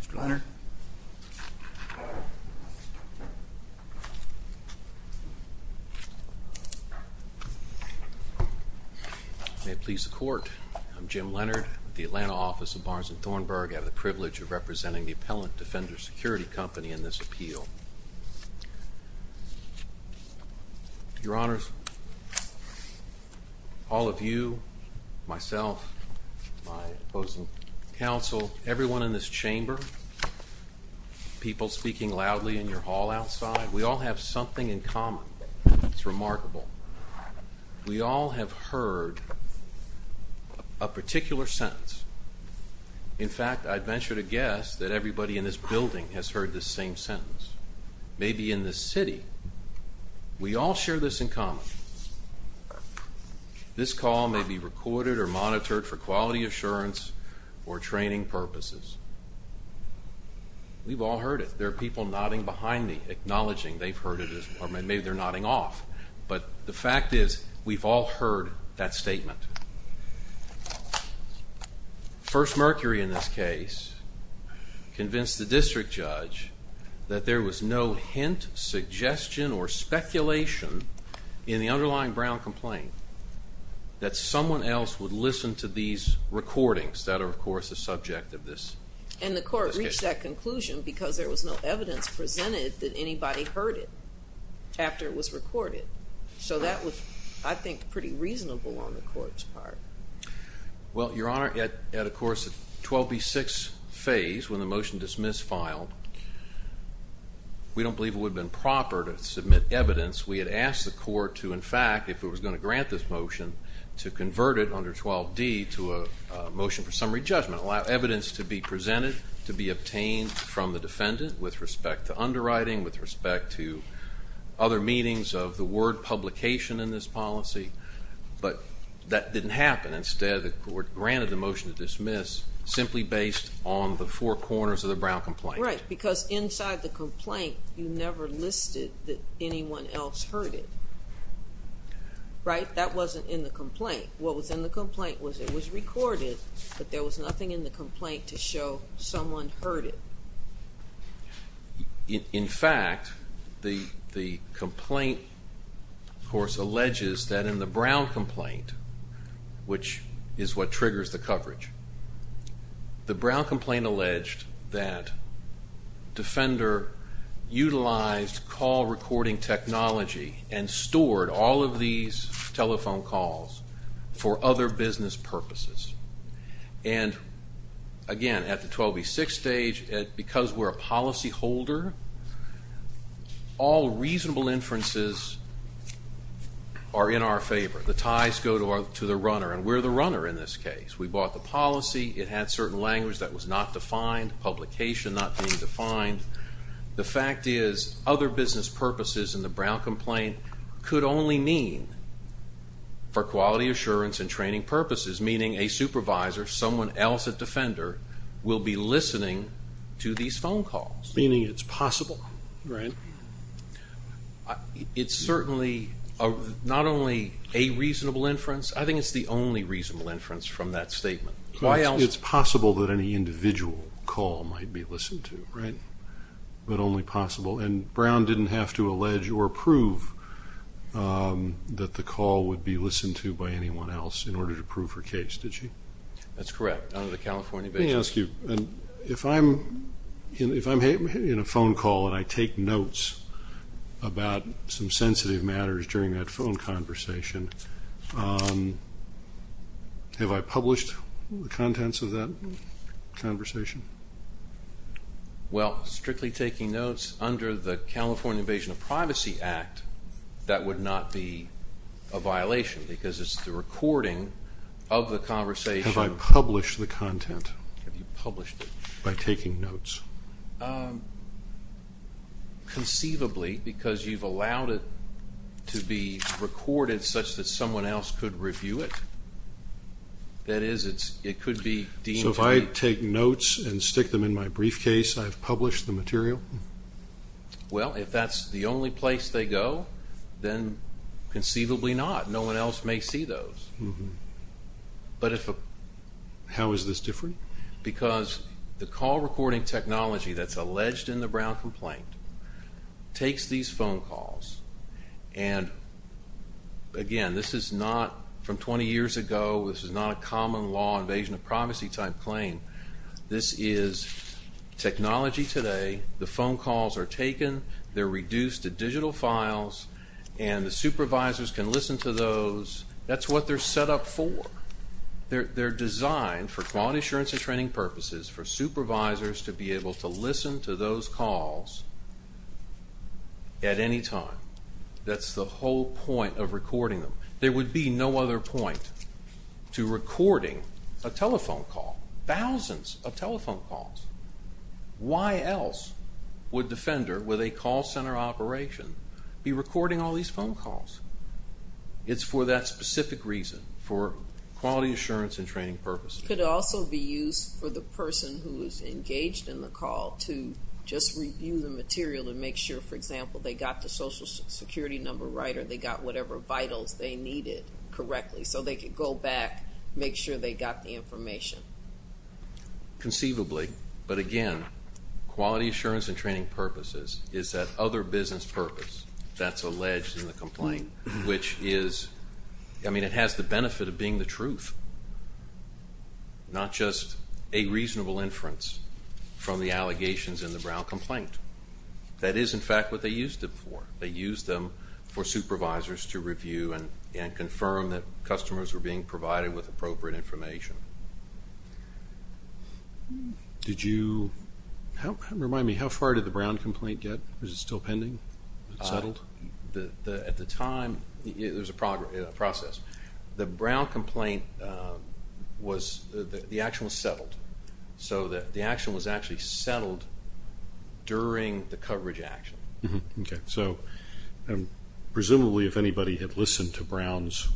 Mr. Leonard? May it please the court, I'm Jim Leonard, with the Atlanta office of Barnes and Thornburg. I have the privilege of representing the Appellant Defender Security Company in this appeal. Your Honors, all of you, myself, my opposing counsel, everyone in this chamber, people speaking loudly in your hall outside, we all have something in common. It's remarkable. We all have heard a particular sentence. In fact, I'd venture to guess that everybody in this building has heard this same sentence. Maybe in this city. We all share this in common. This call may be recorded or monitored for quality assurance or training purposes. We've all heard it. There are people nodding behind me, acknowledging they've heard it, or maybe they're nodding off. But the fact is, we've all heard that statement. First Mercury, in this case, convinced the district judge that there was no hint, suggestion, or speculation in the underlying Brown complaint that someone else would listen to these recordings that are, of course, the subject of this case. And the court reached that conclusion because there was no evidence presented that anybody heard it after it was recorded. So that was, I think, pretty reasonable on the court's part. Well, Your Honor, at, of course, the 12B6 phase, when the motion dismiss filed, we don't believe it would have been proper to submit evidence. We had asked the court to, in fact, if it was gonna grant this motion, to convert it under 12D to a motion for summary judgment, allow evidence to be presented, to be obtained from the defendant with respect to underwriting, with respect to other meetings of the word publication in this policy. But that didn't happen. Instead, the court granted the motion to dismiss simply based on the four corners of the Brown complaint. Right, because inside the complaint, you never listed that anyone else heard it. Right? That wasn't in the complaint. What was in the complaint was it was recorded, but there was nothing in the complaint to show someone heard it. In fact, the complaint, of course, alleges that in the Brown complaint, which is what triggers the coverage, the Brown complaint alleged that Defender utilized call recording technology and stored all of these telephone calls for other business purposes. And again, at the 12B6 stage, because we're a policy holder, all reasonable inferences are in our favor. The ties go to the runner, and we're the runner in this case. We bought the policy, it had certain language that was not being defined. The fact is, other business purposes in the Brown complaint could only mean for quality assurance and training purposes, meaning a supervisor, someone else at Defender will be listening to these phone calls. Meaning it's possible. Right. It's certainly not only a reasonable inference, I think it's the only reasonable inference from that statement. Why else... It's possible that any person would listen to, right? But only possible. And Brown didn't have to allege or prove that the call would be listened to by anyone else in order to prove her case, did she? That's correct, out of the California basis. Let me ask you, if I'm in a phone call and I take notes about some sensitive matters during that phone conversation, have I published the contents of that conversation? Well, strictly taking notes under the California Invasion of Privacy Act, that would not be a violation because it's the recording of the conversation. Have I published the content? Have you published it? By taking notes? Conceivably, because you've allowed it to be recorded such that someone else could review it. That is, it could be deemed to be... So if I take notes and I've published the material? Well, if that's the only place they go, then conceivably not, no one else may see those. But if a... How is this different? Because the call recording technology that's alleged in the Brown complaint takes these phone calls and again, this is not from 20 years ago, this is not a common law invasion of privacy type claim. This is technology today, the phone calls are taken, they're reduced to digital files, and the supervisors can listen to those. That's what they're set up for. They're designed for quality assurance and training purposes for supervisors to be able to listen to those calls at any time. That's the whole point of recording them. There would be no other point to recording a telephone call, thousands of telephone calls. Why else would Defender, with a call center operation, be recording all these phone calls? It's for that specific reason, for quality assurance and training purposes. Could also be used for the person who is engaged in the call to just review the material and make sure, for example, they got the social security number right or they got whatever vitals they needed correctly, so they could go back, make sure they got the information. Conceivably, but again, quality assurance and training purposes is that other business purpose that's alleged in the complaint, which is... It has the benefit of being the truth, not just a reasonable inference from the allegations in the Brown complaint. That is, in fact, what they used it for. They used them for review and confirm that customers were being provided with appropriate information. Did you... Remind me, how far did the Brown complaint get? Is it still pending? Is it settled? At the time, there's a process. The Brown complaint was... The action was settled. So the action was actually settled during the coverage action. Okay. Presumably, if anybody had listened to Brown's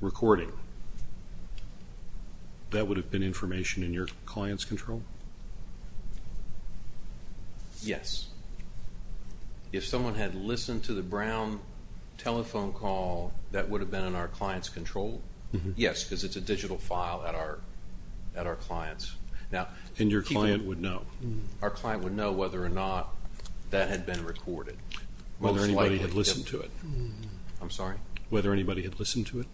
recording, that would have been information in your client's control? Yes. If someone had listened to the Brown telephone call, that would have been in our client's control. Yes, because it's a digital file at our client's. Now... And your client would know? Our client would know whether or not that had been recorded. Most likely... Whether anybody had listened to it. I'm sorry? Whether anybody had listened to it?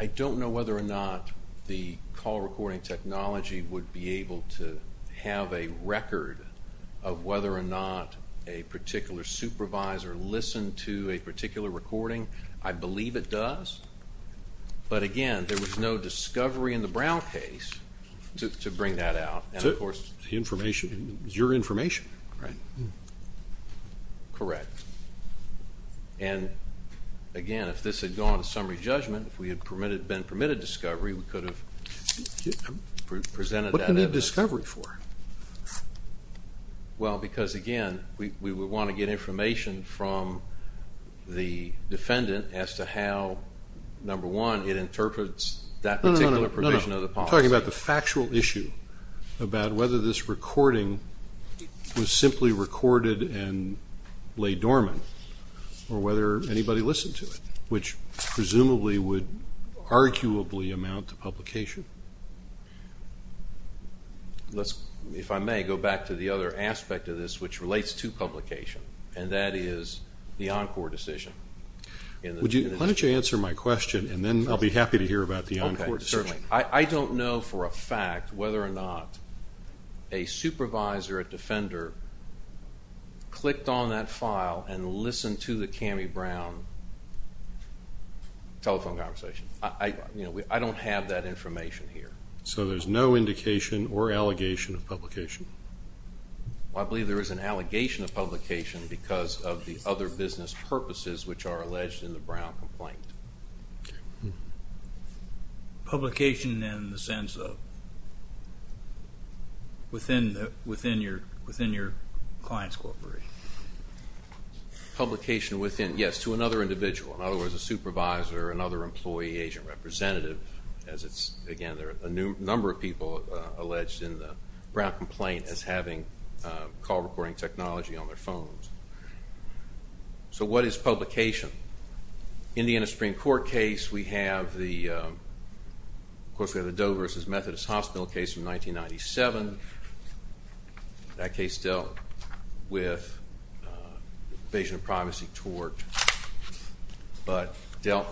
I don't know whether or not the call recording technology would be able to have a record of whether or not a particular supervisor listened to a call. But again, there was no discovery in the Brown case to bring that out, and of course... The information, it's your information, right? Correct. And again, if this had gone to summary judgment, if we had permitted, been permitted discovery, we could have presented that... What could we have discovery for? Well, because again, we would wanna get information from the defendant as to how, number one, it interprets that particular provision of the policy. No, no, no, no, no. I'm talking about the factual issue about whether this recording was simply recorded and lay dormant, or whether anybody listened to it, which presumably would arguably amount to publication. If I may, go back to the other aspect of this which relates to publication, and that is the Encore decision. Would you... Why don't you answer my question, and then I'll be happy to hear about the Encore decision. Okay, certainly. I don't know for a fact whether or not a supervisor or a defender clicked on that file and listened to the Cammie Brown telephone conversation. I don't have that information here. So there's no indication or allegation of publication? Well, I believe there is an allegation of publication because of the other business purposes which are alleged in the Brown complaint. Publication in the sense of within your client's corporation? Publication within, yes, to another individual. In other words, a supervisor, another employee, agent representative, as it's... Again, there are a number of people alleged in the Brown complaint as having call recording technology on their phones. So what is publication? In the Indiana Supreme Court case, we have the... Of course, we have the Doe versus Methodist Hospital case from 1997. That case dealt with invasion of privacy tort, but dealt...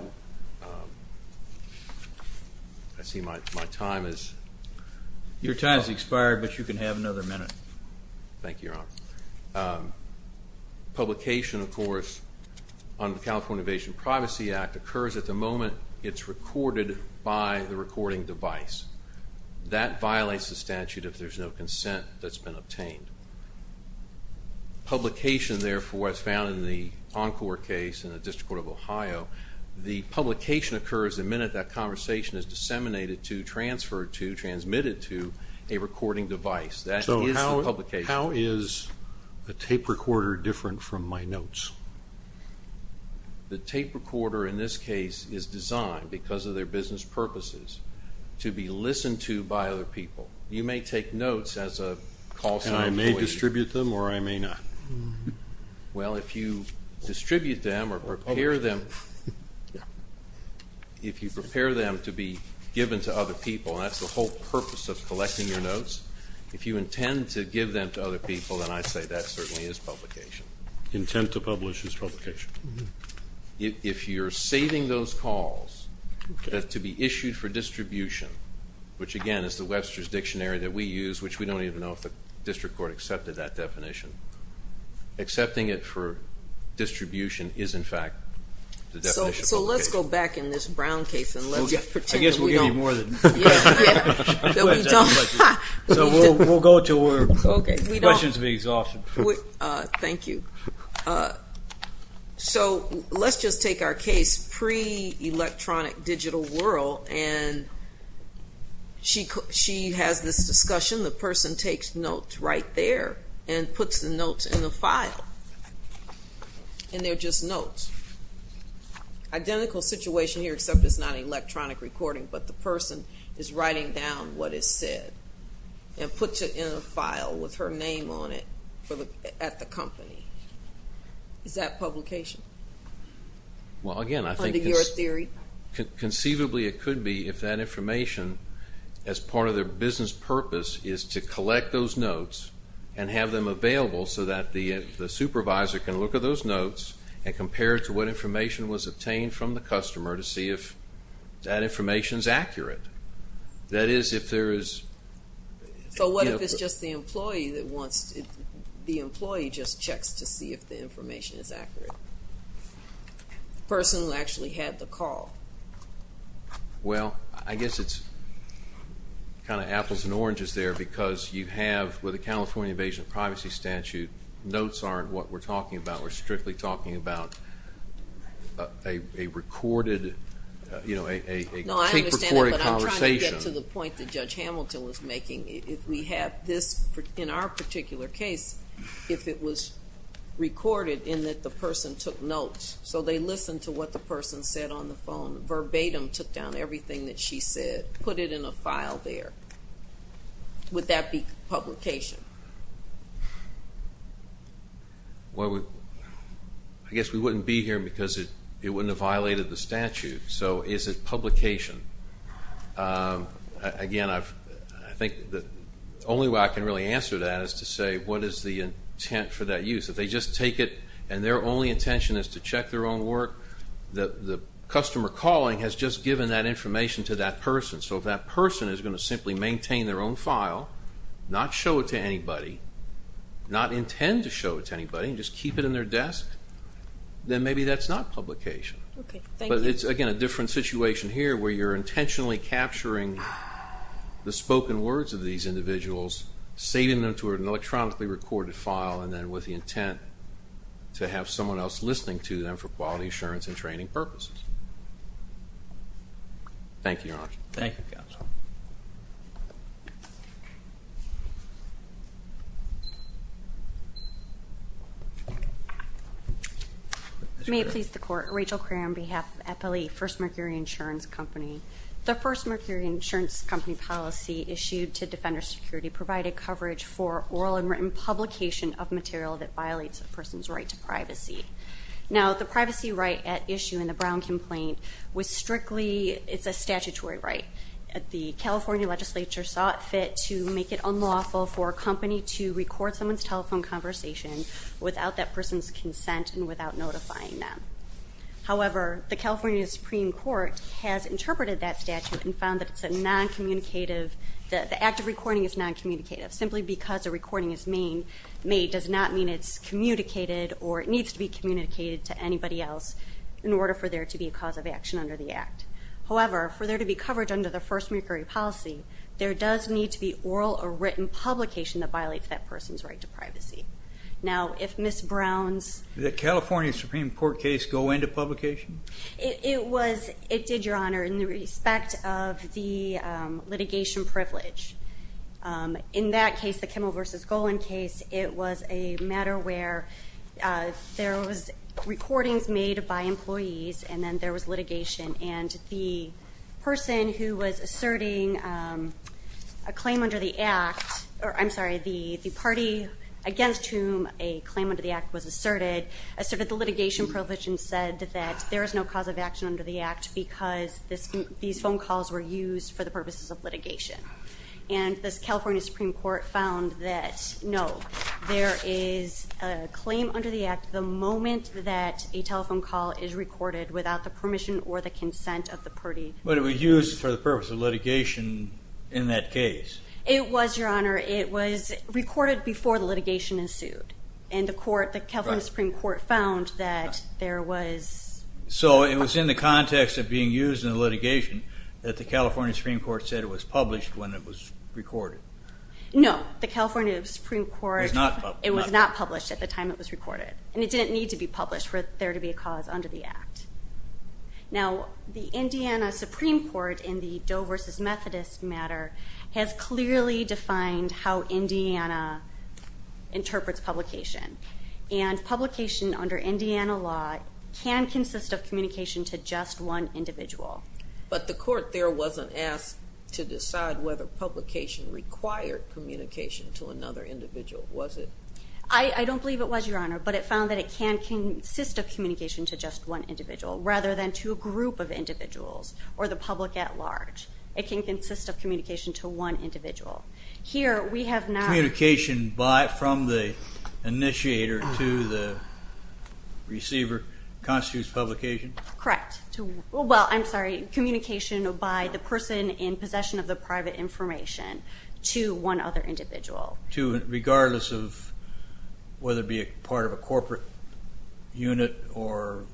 I see my time is... Your time's expired, but you can have another minute. Thank you, Your Honor. Publication, of course, on the California Invasion Privacy Act occurs at the moment it's recorded by the recording device. That violates the statute if there's no consent that's been obtained. Publication, therefore, as found in the Encore case in the District Court of Ohio, the publication occurs the minute that conversation is disseminated to, transferred to, transmitted to a recording device. That is the publication. So how is a tape recorder different from my notes? The tape recorder, in this case, is designed, because of their business purposes, to be listened to by other people. You may take notes as a call sign... And I may distribute them or I may not. Well, if you distribute them or prepare them... If you prepare them to be given to other people, and that's the whole purpose of collecting your notes, if you intend to give them to other people, then I'd say that certainly is publication. Intent to publish is publication. If you're saving those calls to be issued for distribution, which, again, is the Webster's Dictionary that we use, which we don't even know if the District Court accepted that definition. Accepting it for distribution is, in fact, the definition of publication. So let's go back in this Brown case and let's pretend that we don't... I guess we'll give you more than... Yeah, yeah. That we don't... So we'll go until we're... Okay, we don't... The question's being asked. She has this discussion. The person takes notes right there and puts the notes in the file. And they're just notes. Identical situation here, except it's not electronic recording, but the person is writing down what is said and puts it in a file with her name on it at the company. Is that publication? Well, again, I think it's... Under your theory? Conceivably, it could be if that information, as part of their business purpose, is to collect those notes and have them available so that the supervisor can look at those notes and compare it to what information was obtained from the customer to see if that information's accurate. That is, if there is... So what if it's just the employee that wants... The employee just checks to see if the information is accurate? The person who actually had the call. Well, I guess it's kind of apples and oranges there because you have, with a California invasion of privacy statute, notes aren't what we're talking about. We're strictly talking about a recorded, a tape recorded conversation. No, I understand that, but I'm trying to get to the point that Judge Hamilton was making. If we have this, in our particular case, if it was recorded in that the person took notes, so they listened to what the person said on the phone verbatim, took down everything that she said, put it in a file there, would that be publication? Well, I guess we wouldn't be here because it wouldn't have violated the statute, so is it publication? Again, I think the only way I can really answer that is to say, what is the intent for that use? If they just take it and their only intention is to check their own work, the customer calling has just given that information to that person, so if that person is going to simply maintain their own file, not show it to anybody, not intend to show it to anybody, and just keep it in their desk, then maybe that's not publication. Okay, thank you. But it's, again, a different situation here where you're intentionally capturing the spoken words of these individuals, saving them to an electronically recorded file, and then with the intent to have someone else listening to them for quality assurance and training purposes. Thank you, Your Honor. Thank you, counsel. May it please the Court. Rachel Cray on behalf of FLE, First Mercury Insurance Company. The First Mercury Insurance Company policy issued to Defender Security provided coverage for oral and written publication of material that violates a person's right to privacy. Now, the privacy right at issue in the Brown complaint was strictly... It's a statutory right. The California Legislature saw it fit to make it unlawful for a company to record someone's telephone conversation without that person's consent and without notifying them. However, the California Supreme Court has interpreted that statute and found that it's a non-communicative... The act of recording is non-communicative. Simply because a recording is made does not mean it's communicated or it needs to be communicated to anybody else in order for there to be a cause of action under the act. However, for there to be coverage under the First Mercury policy, there does need to be oral or written publication that violates that person's right to privacy. Now, if Ms. Brown's... Did the California Supreme Court case go into publication? It did, Your Honor, in the respect of the litigation privilege. In that case, the Kimmel v. Golan case, it was a matter where there was recordings made by employees and then there was litigation. And the person who was asserting a claim under the act... I'm sorry, the party against whom a said that there is no cause of action under the act because these phone calls were used for the purposes of litigation. And the California Supreme Court found that no, there is a claim under the act the moment that a telephone call is recorded without the permission or the consent of the party. But it was used for the purpose of litigation in that case. It was, Your Honor. It was recorded before the litigation ensued. And the California Supreme Court found that there was... So it was in the context of being used in the litigation that the California Supreme Court said it was published when it was recorded. No, the California Supreme Court... It was not published. It was not published at the time it was recorded. And it didn't need to be published for there to be a cause under the act. Now, the Indiana Supreme Court in the Doe v. Methodist matter has clearly defined how Indiana interprets publication. And publication under the act can consist of communication to just one individual. But the court there wasn't asked to decide whether publication required communication to another individual, was it? I don't believe it was, Your Honor. But it found that it can consist of communication to just one individual rather than to a group of individuals or the public at large. It can consist of communication to one individual. Here, we have not... Communication by, from the initiator to the receiver constitutes publication? Correct. Well, I'm sorry, communication by the person in possession of the private information to one other individual. Regardless of whether it be a part of a corporate unit or,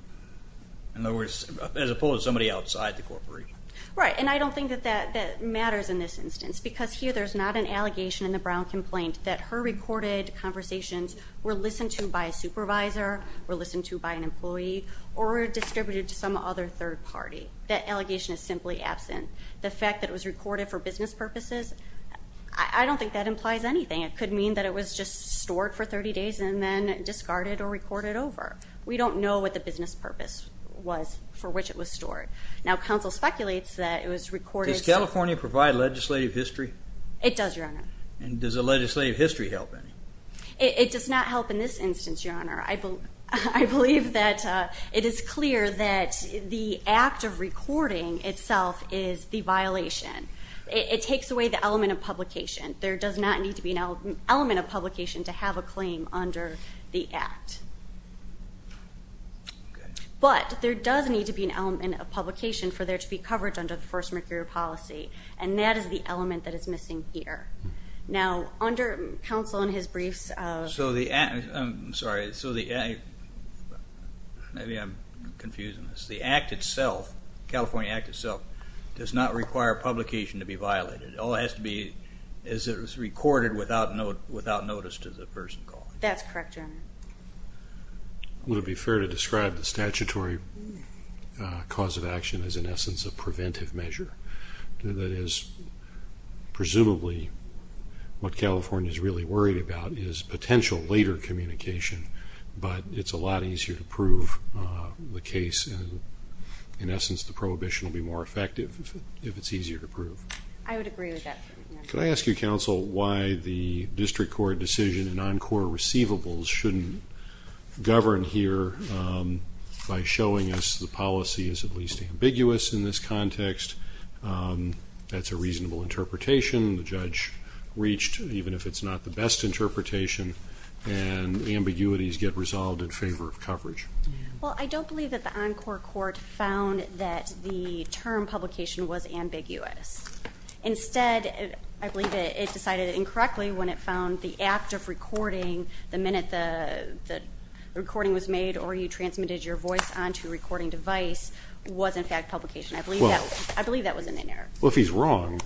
in other words, as opposed to somebody outside the corporation. Right, and I don't think that that matters in this instance because here there's not an allegation in the Brown complaint that her recorded conversations were listened to by a supervisor, were listened to by an employee, or were distributed to some other third party. That allegation is simply absent. The fact that it was recorded for business purposes, I don't think that implies anything. It could mean that it was just stored for 30 days and then discarded or recorded over. We don't know what the business purpose was for which it was stored. Now, counsel speculates that it was recorded... Does California provide legislative history? It does, Your Honor. And does a legislative history help any? It does not help in this instance, Your Honor. I believe that it is clear that the act of recording itself is the violation. It takes away the element of publication. There does not need to be an element of publication to have a claim under the act. But there does need to be an element of publication for there to be coverage under the first mercury policy, and that is the element that is missing here. Now, under counsel and his Maybe I'm confusing this. The act itself, California Act itself, does not require publication to be violated. It all has to be as it was recorded without notice to the person calling. That's correct, Your Honor. Would it be fair to describe the statutory cause of action as, in essence, a preventive measure? That is, presumably, what California is really worried about is potential later communication but it's a lot easier to prove the case. In essence, the prohibition will be more effective if it's easier to prove. I would agree with that. Can I ask you, counsel, why the district court decision in encore receivables shouldn't govern here by showing us the policy is at least ambiguous in this context? That's a reasonable interpretation. The judge reached, even if it's not the best interpretation, and ambiguities get resolved in favor of coverage. Well, I don't believe that the encore court found that the term publication was ambiguous. Instead, I believe it decided incorrectly when it found the act of recording, the minute the recording was made or you transmitted your voice onto a recording device, was, in fact, publication. I believe that was in the narrative. Well, if he's wrong,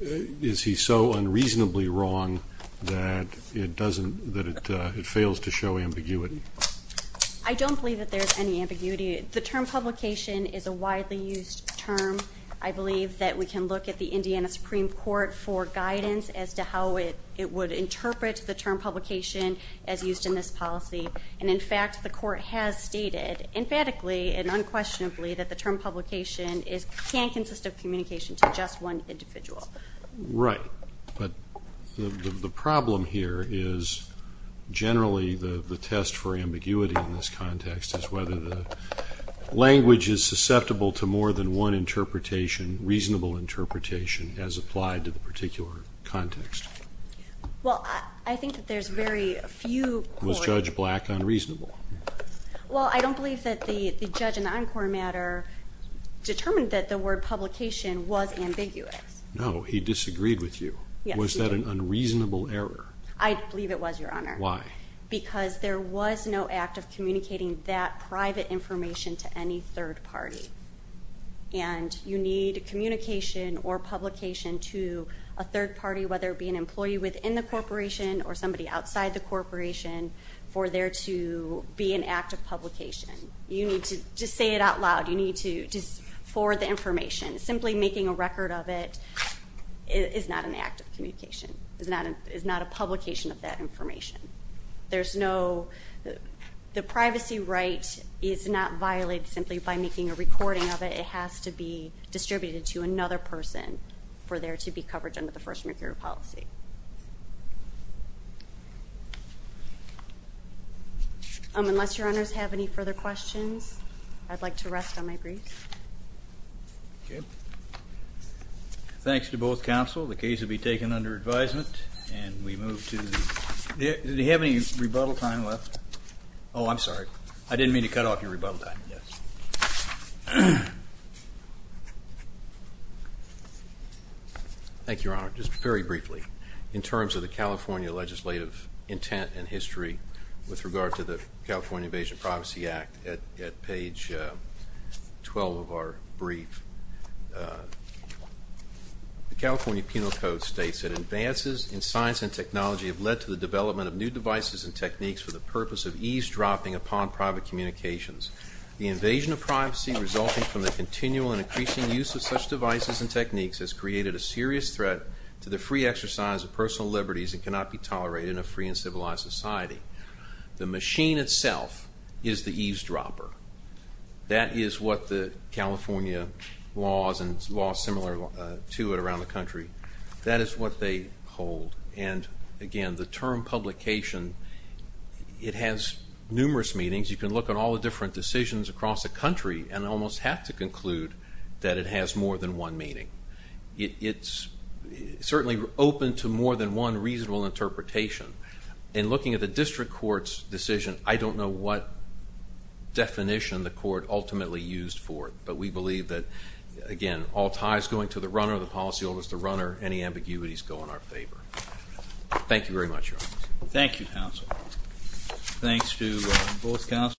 is he so unreasonably wrong that it doesn't, that it fails to show ambiguity? I don't believe that there's any ambiguity. The term publication is a widely used term. I believe that we can look at the Indiana Supreme Court for guidance as to how it would interpret the term publication as used in this policy. And, in fact, the court has stated emphatically and unquestionably that the just one individual. Right, but the problem here is, generally, the test for ambiguity in this context is whether the language is susceptible to more than one interpretation, reasonable interpretation, as applied to the particular context. Well, I think that there's very few... Was Judge Black unreasonable? Well, I don't believe that the judge in the encore matter determined that the word publication was ambiguous. No, he disagreed with you. Was that an unreasonable error? I believe it was, Your Honor. Why? Because there was no act of communicating that private information to any third party. And you need communication or publication to a third party, whether it be an employee within the corporation or somebody outside the corporation, for there to be an act of publication. You need to just say it out as information. Simply making a record of it is not an act of communication, is not a publication of that information. There's no... The privacy right is not violated simply by making a recording of it. It has to be distributed to another person for there to be coverage under the First Recruiter Policy. Unless your honors have any further questions, I'd like to rest on my briefs. Okay. Thanks to both counsel. The case will be taken under advisement and we move to... Did you have any rebuttal time left? Oh, I'm sorry. I didn't mean to cut off your briefly in terms of the California legislative intent and history with regard to the California Invasion Privacy Act at page 12 of our brief. The California Penal Code states that advances in science and technology have led to the development of new devices and techniques for the purpose of eavesdropping upon private communications. The invasion of privacy resulting from the continual and increasing use of such devices and exercise of personal liberties and cannot be tolerated in a free and civilized society. The machine itself is the eavesdropper. That is what the California laws and laws similar to it around the country, that is what they hold. And again, the term publication, it has numerous meanings. You can look at all the different decisions across the country and almost have to conclude that it has more than one meaning. It's certainly open to more than one reasonable interpretation. In looking at the district court's decision, I don't know what definition the court ultimately used for it, but we believe that again, all ties going to the runner, the policyholders, the runner, any ambiguities go in our favor. Thank you very much. Thank you, counsel. Thanks to both counsel.